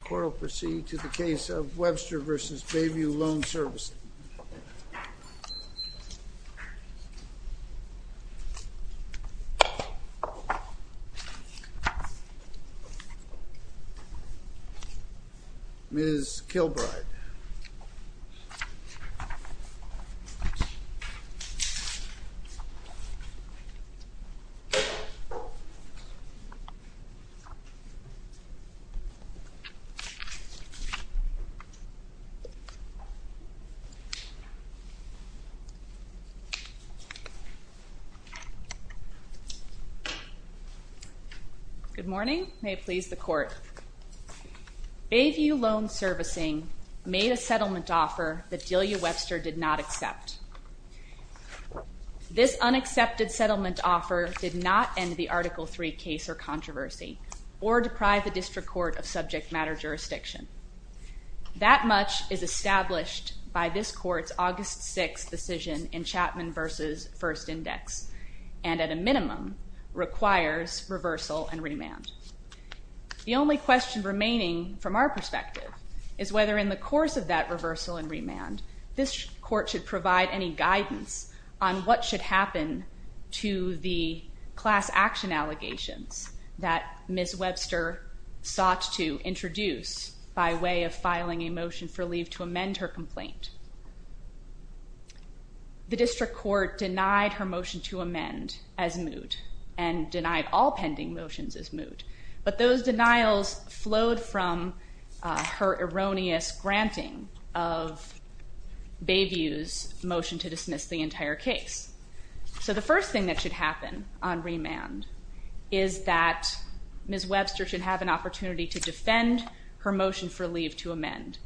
The court will proceed to the case of Webster v. Bayview Loan Servicing. Ms. Kilbride. Good morning. May it please the court. Bayview Loan Servicing made a settlement offer that Delia Webster did not accept. This unaccepted settlement offer did not end the Article III case or controversy or deprive the District Court of subject matter jurisdiction. That much is established by this court's August 6 decision in Chapman v. First Index and at a minimum requires reversal and remand. The only question remaining from our perspective is whether in the course of that reversal and remand this court should provide any guidance on what should happen to the class action allegations that Ms. Webster sought to introduce by way of filing a motion for leave to amend her complaint. The District Court denied her motion to amend as moot and denied all pending motions as moot, but those denials flowed from her erroneous granting of Bayview's motion to dismiss the entire case. So the first thing that should happen on remand is that Ms. Webster should have an opportunity to defend her motion for leave to amend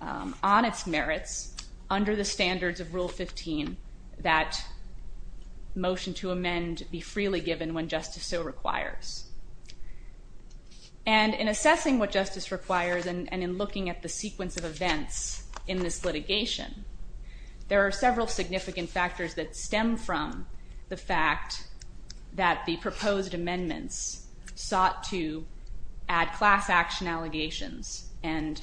on its merits under the standards of Rule 15 that motion to amend be freely given when justice so requires. And in assessing what justice requires and in looking at the sequence of events in this litigation, there are several significant factors that stem from the fact that the proposed amendments sought to add class action allegations and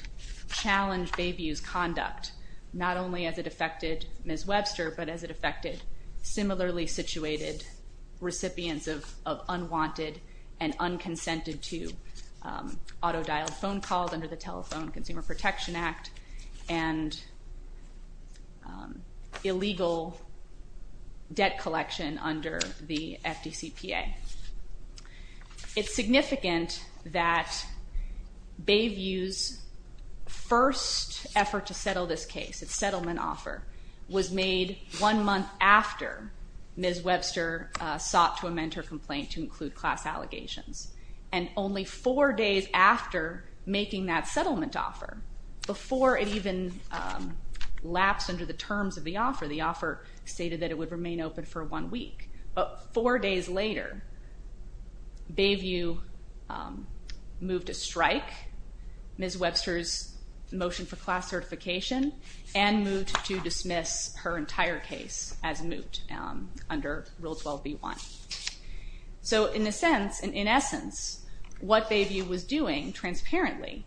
challenge Bayview's conduct not only as it affected Ms. Webster but as it affected similarly situated recipients of unwanted and unconsented to auto-dialed phone calls under the Telephone Consumer Protection Act and illegal debt collection under the FDCPA. It's significant that Bayview's first effort to settle this case, its settlement offer, was made one month after Ms. Webster sought to amend her complaint to include class allegations. And only four days after making that settlement offer, before it even lapsed under the terms of the offer, the offer stated that it would remain open for one week. But four days later, Bayview moved to strike Ms. Webster's motion for class certification and moved to dismiss her entire case as moot under Rule 12b-1. So in a sense, in essence, what Bayview was doing transparently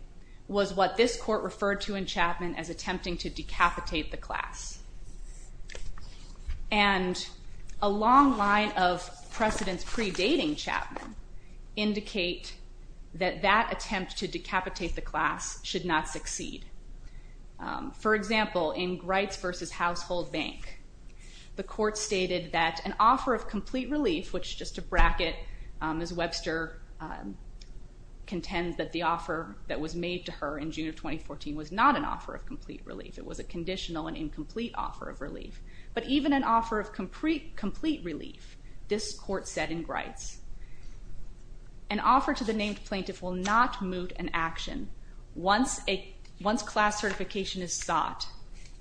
was what this court referred to in Chapman as attempting to decapitate the class. And a long line of precedents predating Chapman indicate that that attempt to decapitate the class should not succeed. For example, in Grites v. Household Bank, the court stated that an offer of complete relief, which just to bracket Ms. Webster contends that the offer that was made to her in June of 2014 was not an offer of complete relief. It was a conditional and incomplete offer of relief. But even an offer of complete relief, this court said in Grites, an offer to the named plaintiff will not moot an action once class certification is sought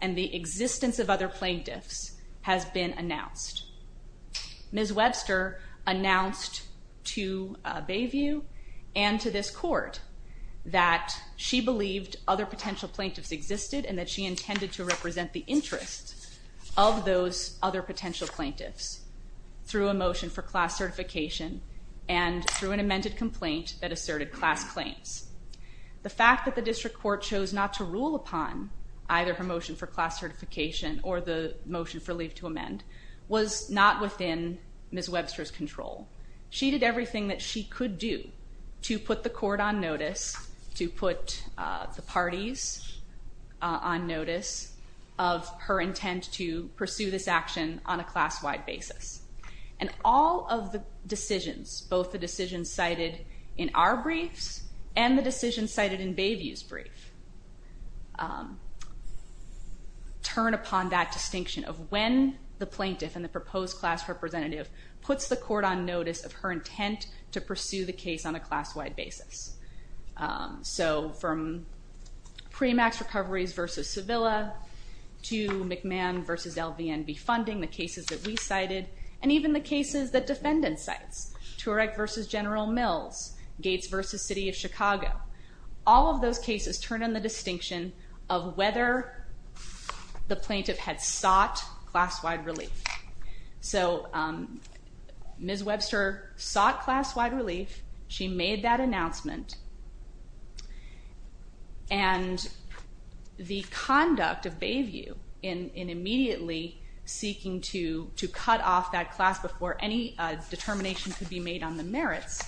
and the existence of other plaintiffs has been announced. Ms. Webster announced to Bayview and to this court that she believed other potential plaintiffs existed and that she intended to represent the interests of those other potential plaintiffs through a motion for class certification and through an amended complaint that asserted class claims. The fact that the district court chose not to rule upon either her motion for class certification or the motion for leave to amend was not within Ms. Webster's control. She did everything that she could do to put the court on notice, to put the parties on notice of her intent to pursue this action on a class-wide basis. And all of the decisions, both the decisions cited in our briefs and the decisions cited in Bayview's brief, turn upon that distinction of when the plaintiff and the proposed class representative puts the court on notice of her intent to pursue the case on a class-wide basis. So from pre-max recoveries versus Sevilla to McMahon versus LVNB funding, the cases that we cited, and even the cases that defendants cited, Turek versus General Mills, Gates versus City of Chicago. All of those cases turn on the distinction of whether the plaintiff had sought class-wide relief. So Ms. Webster sought class-wide relief, she made that announcement, and the conduct of Bayview in immediately seeking to cut off that class before any determination could be made on the merits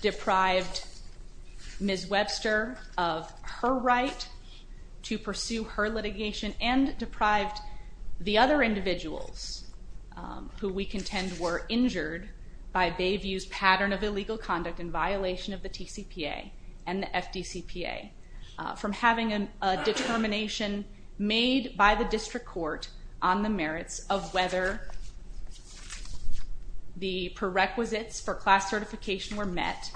deprived Ms. Webster of her right to pursue her litigation and deprived the other individuals who we contend were injured by Bayview's pattern of illegal conduct in violation of the TCPA and the FDCPA from having a determination made by the district court on the merits of whether the prerequisites for class certification were met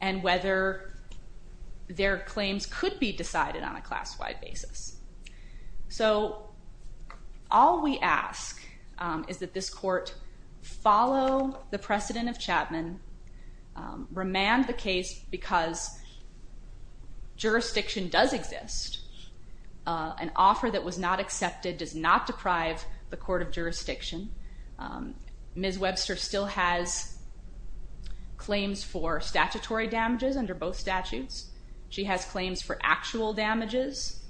and whether their claims could be decided on a class-wide basis. So all we ask is that this court follow the precedent of Chapman, remand the case because jurisdiction does exist. An offer that was not accepted does not deprive the court of jurisdiction. Ms. Webster still has claims for statutory damages under both statutes. She has claims for actual damages.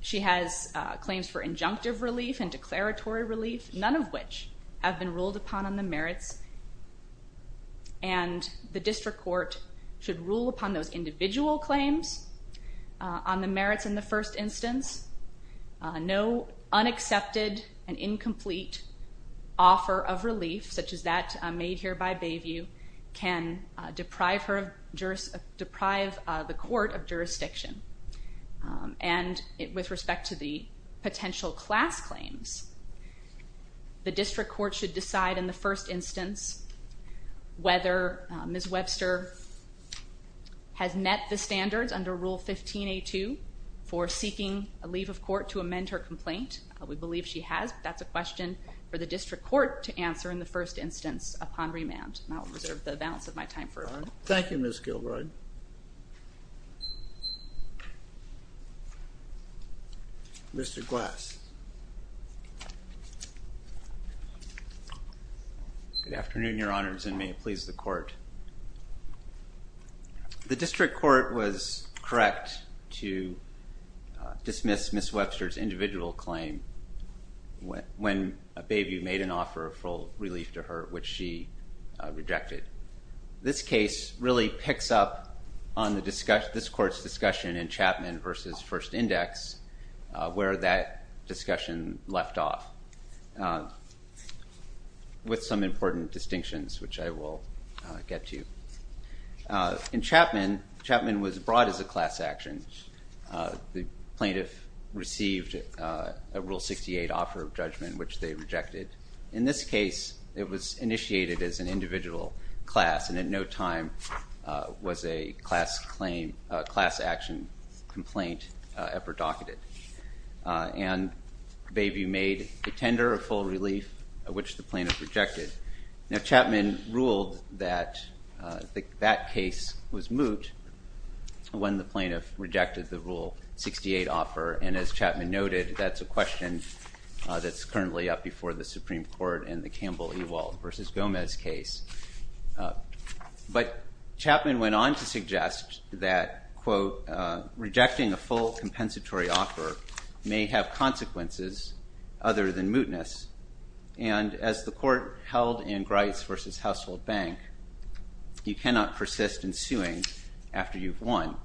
She has claims for injunctive relief and declaratory relief, none of which have been ruled upon on the merits. And the district court should rule upon those individual claims on the merits in the first instance. No unaccepted and incomplete offer of relief, such as that made here by Bayview, can deprive the court of jurisdiction. And with respect to the potential class claims, the district court should decide in the first instance whether Ms. Webster has met the standards under Rule 15a2 for seeking a leave of court to amend her complaint. We believe she has, but that's a question for the district court to answer in the first instance upon remand. And I'll reserve the balance of my time for a moment. Thank you, Ms. Gilbride. Mr. Glass. Good afternoon, Your Honors, and may it please the court. The district court was correct to dismiss Ms. Webster's individual claim when Bayview made an offer of full relief to her, which she rejected. This case really picks up on this court's discussion in Chapman v. First Index where that discussion left off with some important distinctions, which I will get to. In Chapman, Chapman was brought as a class action. The plaintiff received a Rule 68 offer of judgment, which they rejected. In this case, it was initiated as an individual class, and in no time was a class action complaint ever docketed. And Bayview made a tender of full relief, which the plaintiff rejected. Now, Chapman ruled that that case was moot when the plaintiff rejected the Rule 68 offer. And as Chapman noted, that's a question that's currently up before the Supreme Court in the Campbell-Ewald v. Gomez case. But Chapman went on to suggest that, quote, rejecting a full compensatory offer may have consequences other than mootness. And as the court held in Grice v. Household Bank, you cannot persist in suing after you've won.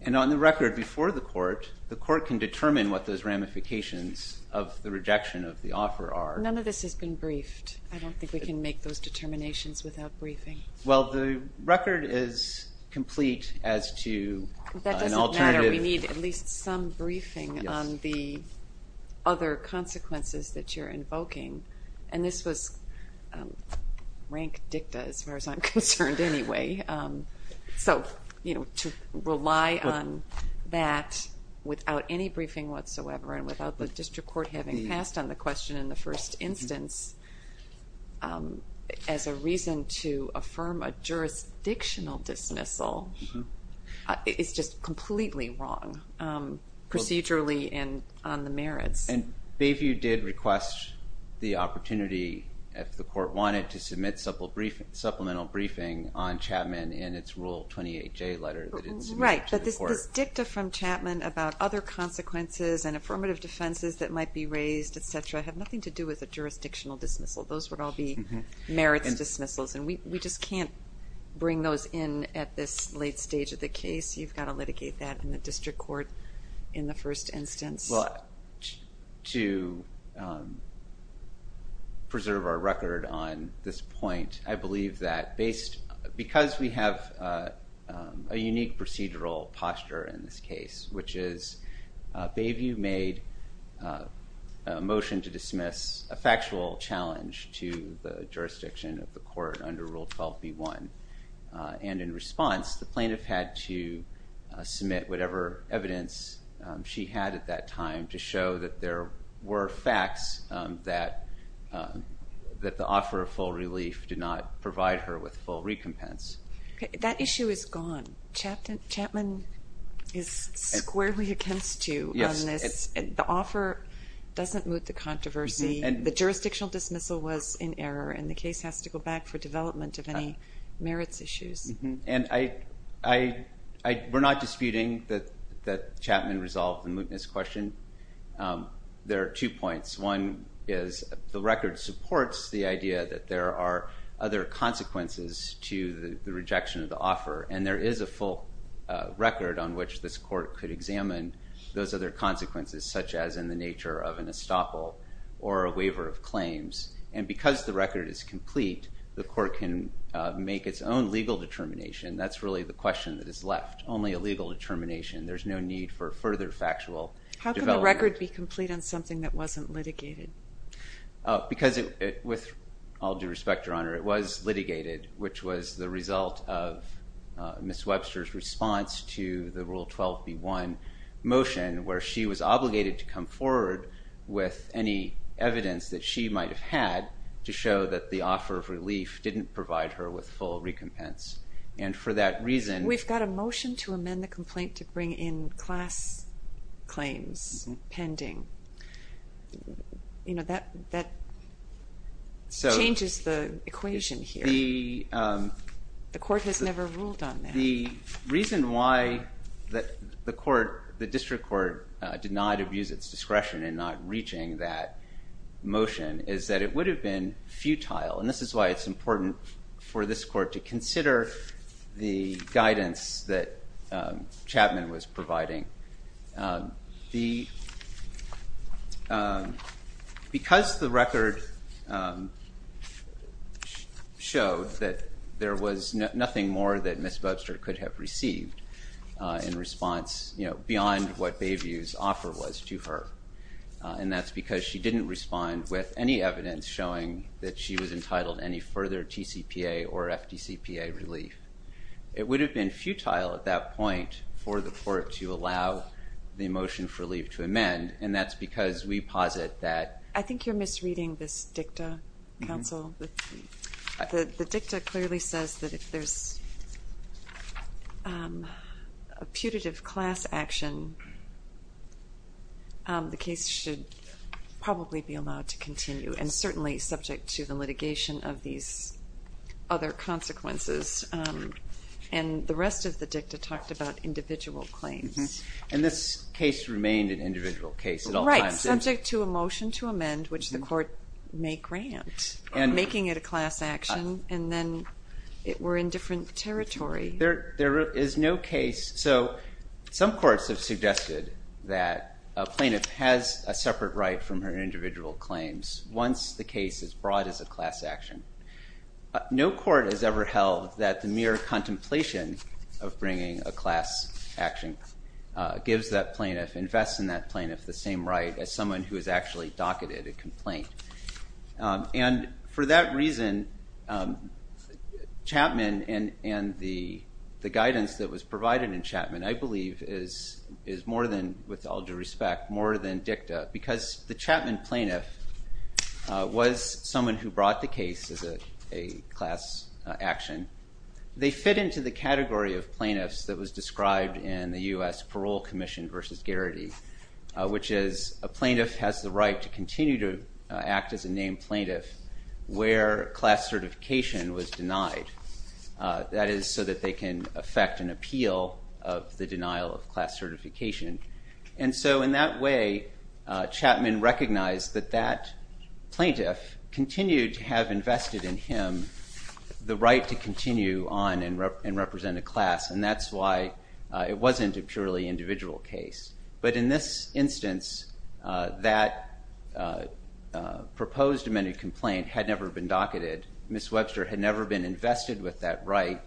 And on the record before the court, the court can determine what those ramifications of the rejection of the offer are. None of this has been briefed. I don't think we can make those determinations without briefing. Well, the record is complete as to an alternative. We need at least some briefing on the other consequences that you're invoking. And this was rank dicta, as far as I'm concerned, anyway. So, you know, to rely on that without any briefing whatsoever and without the district court having passed on the question in the first instance, as a reason to affirm a jurisdictional dismissal is just completely wrong procedurally and on the merits. And Bayview did request the opportunity, if the court wanted, to submit supplemental briefing on Chapman in its Rule 28J letter that it submitted to the court. Right, but this dicta from Chapman about other consequences and affirmative defenses that might be raised, etc., have nothing to do with a jurisdictional dismissal. Those would all be merits dismissals, and we just can't bring those in at this late stage of the case. You've got to litigate that in the district court in the first instance. Well, to preserve our record on this point, I believe that because we have a unique procedural posture in this case, which is Bayview made a motion to dismiss a factual challenge to the jurisdiction of the court under Rule 12B1, and in response the plaintiff had to submit whatever evidence she had at that time to show that there were facts that the offer of full relief did not provide her with full recompense. That issue is gone. Chapman is squarely against you on this. The offer doesn't moot the controversy. The jurisdictional dismissal was in error, and the case has to go back for development of any merits issues. And we're not disputing that Chapman resolved the mootness question. There are two points. One is the record supports the idea that there are other consequences to the rejection of the offer, and there is a full record on which this court could examine those other consequences, such as in the nature of an estoppel or a waiver of claims. And because the record is complete, the court can make its own legal determination. That's really the question that is left, only a legal determination. There's no need for further factual development. How can the record be complete on something that wasn't litigated? Because with all due respect, Your Honor, it was litigated, which was the result of Ms. Webster's response to the Rule 12b-1 motion, where she was obligated to come forward with any evidence that she might have had to show that the offer of relief didn't provide her with full recompense. We've got a motion to amend the complaint to bring in class claims pending. That changes the equation here. The court has never ruled on that. The reason why the district court denied abuse at its discretion in not reaching that motion is that it would have been futile. And this is why it's important for this court to consider the guidance that Chapman was providing. Because the record showed that there was nothing more that Ms. Webster could have received in response beyond what Bayview's offer was to her, and that's because she didn't respond with any evidence showing that she was entitled to any further TCPA or FDCPA relief. It would have been futile at that point for the court to allow the motion for relief to amend, and that's because we posit that— I think you're misreading this dicta, Counsel. The dicta clearly says that if there's a putative class action, the case should probably be allowed to continue, and certainly subject to the litigation of these other consequences. And the rest of the dicta talked about individual claims. And this case remained an individual case at all times. It was subject to a motion to amend, which the court may grant, making it a class action, and then it were in different territory. There is no case—so some courts have suggested that a plaintiff has a separate right from her individual claims once the case is brought as a class action. No court has ever held that the mere contemplation of bringing a class action gives that plaintiff, invests in that plaintiff the same right as someone who has actually docketed a complaint. And for that reason, Chapman and the guidance that was provided in Chapman, I believe, is more than, with all due respect, more than dicta, because the Chapman plaintiff was someone who brought the case as a class action. They fit into the category of plaintiffs that was described in the U.S. Parole Commission versus Garrity, which is a plaintiff has the right to continue to act as a named plaintiff where class certification was denied. That is so that they can affect an appeal of the denial of class certification. And so in that way, Chapman recognized that that plaintiff continued to have invested in him the right to continue on and represent a class, and that's why it wasn't a purely individual case. But in this instance, that proposed amended complaint had never been docketed. Ms. Webster had never been invested with that right,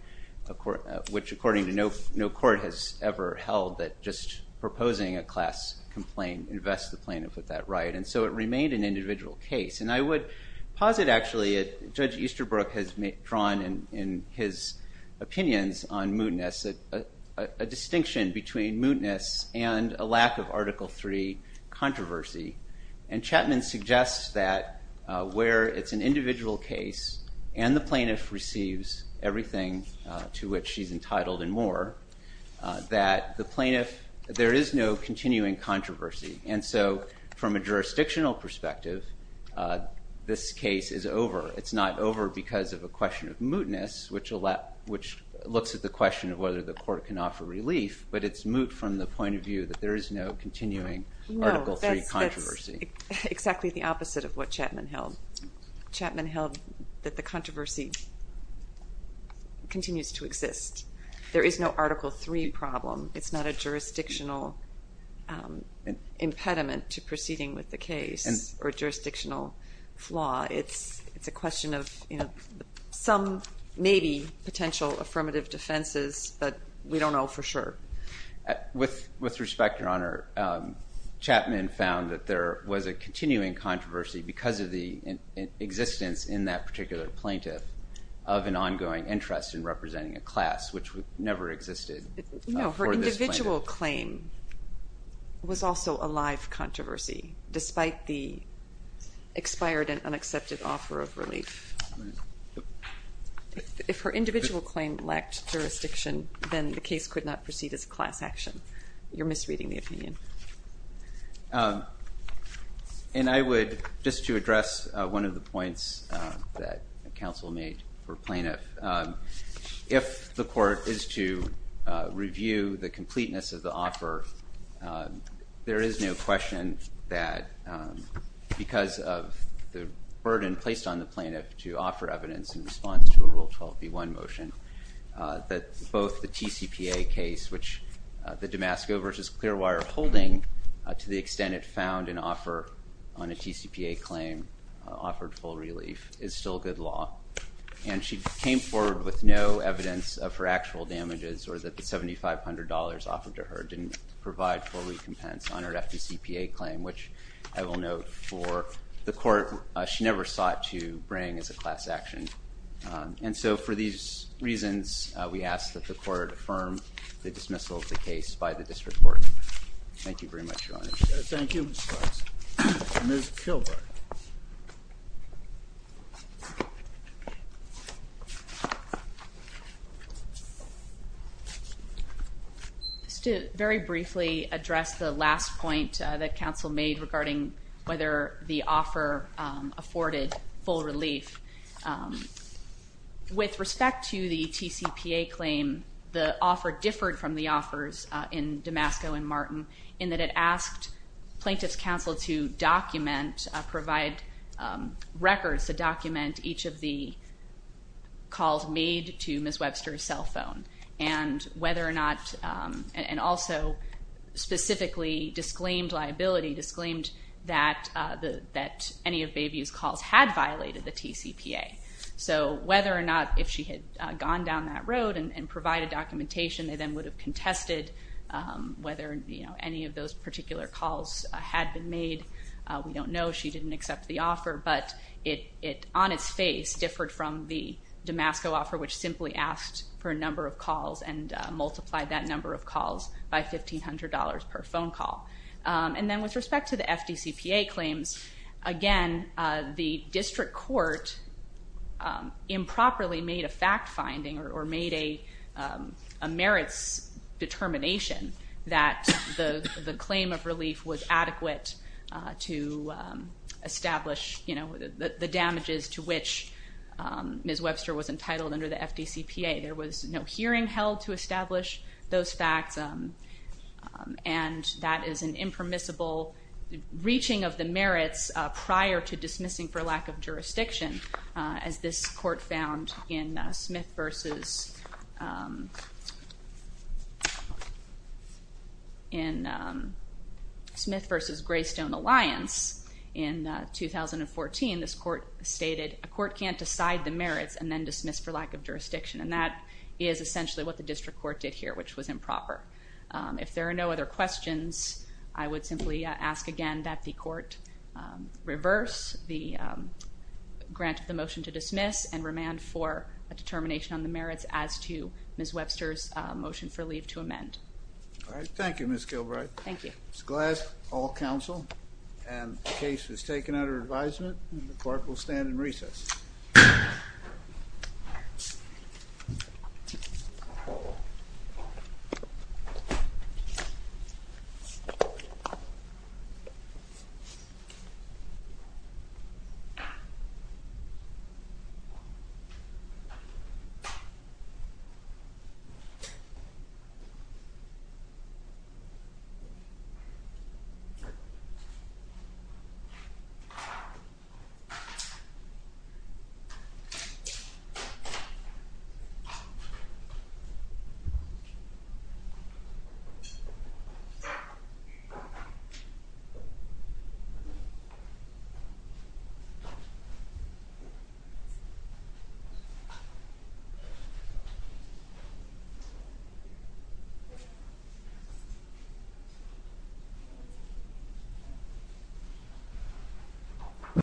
which, according to no court has ever held, that just proposing a class complaint invests the plaintiff with that right. And so it remained an individual case. And I would posit, actually, Judge Easterbrook has drawn in his opinions on mootness a distinction between mootness and a lack of Article III controversy. And Chapman suggests that where it's an individual case and the plaintiff receives everything to which she's entitled and more, that the plaintiff, there is no continuing controversy. And so from a jurisdictional perspective, this case is over. It's not over because of a question of mootness, which looks at the question of whether the court can offer relief, but it's moot from the point of view that there is no continuing Article III controversy. No, that's exactly the opposite of what Chapman held. Chapman held that the controversy continues to exist. There is no Article III problem. It's not a jurisdictional impediment to proceeding with the case or a jurisdictional flaw. It's a question of some, maybe, potential affirmative defenses, but we don't know for sure. With respect, Your Honor, Chapman found that there was a continuing controversy because of the existence in that particular plaintiff of an ongoing interest in representing a class, which never existed for this plaintiff. Her individual claim was also a live controversy, despite the expired and unaccepted offer of relief. If her individual claim lacked jurisdiction, then the case could not proceed as a class action. You're misreading the opinion. And I would, just to address one of the points that counsel made for plaintiff, if the court is to review the completeness of the offer, there is no question that because of the burden placed on the plaintiff to offer evidence in response to a Rule 12b-1 motion, that both the TCPA case, which the Damasco v. Clearwater are holding, to the extent it found an offer on a TCPA claim, offered full relief, is still good law. And she came forward with no evidence of her actual damages or that the $7,500 offered to her didn't provide full recompense on her FDCPA claim, which I will note for the court she never sought to bring as a class action. And so for these reasons, we ask that the court affirm the dismissal of the case by the district court. Thank you very much, Your Honor. Thank you, Mr. Clarkson. Ms. Kilberg. Just to very briefly address the last point that counsel made regarding whether the offer afforded full relief, with respect to the TCPA claim, the offer differed from the offers in Damasco and Martin in that it asked plaintiff's counsel to document, provide records to document each of the calls made to Ms. Webster's cell phone and also specifically disclaimed liability, disclaimed that any of Bayview's calls had violated the TCPA. So whether or not if she had gone down that road and provided documentation, they then would have contested whether any of those particular calls had been made. We don't know. She didn't accept the offer, but it on its face differed from the Damasco offer, which simply asked for a number of calls and multiplied that number of calls by $1,500 per phone call. And then with respect to the FDCPA claims, again, the district court improperly made a fact finding or made a merits determination that the claim of relief was adequate to establish the damages to which Ms. Webster was entitled under the FDCPA. There was no hearing held to establish those facts, and that is an impermissible reaching of the merits prior to dismissing for lack of jurisdiction. As this court found in Smith versus Graystone Alliance in 2014, this court stated a court can't decide the merits and then dismiss for lack of jurisdiction, and that is essentially what the district court did here, which was improper. If there are no other questions, I would simply ask again that the court reverse the grant of the motion to dismiss and remand for a determination on the merits as to Ms. Webster's motion for leave to amend. All right. Thank you, Ms. Gilbride. Thank you. Ms. Glass, all counsel. And the case was taken under advisement. The court will stand in recess. Thank you. Thank you.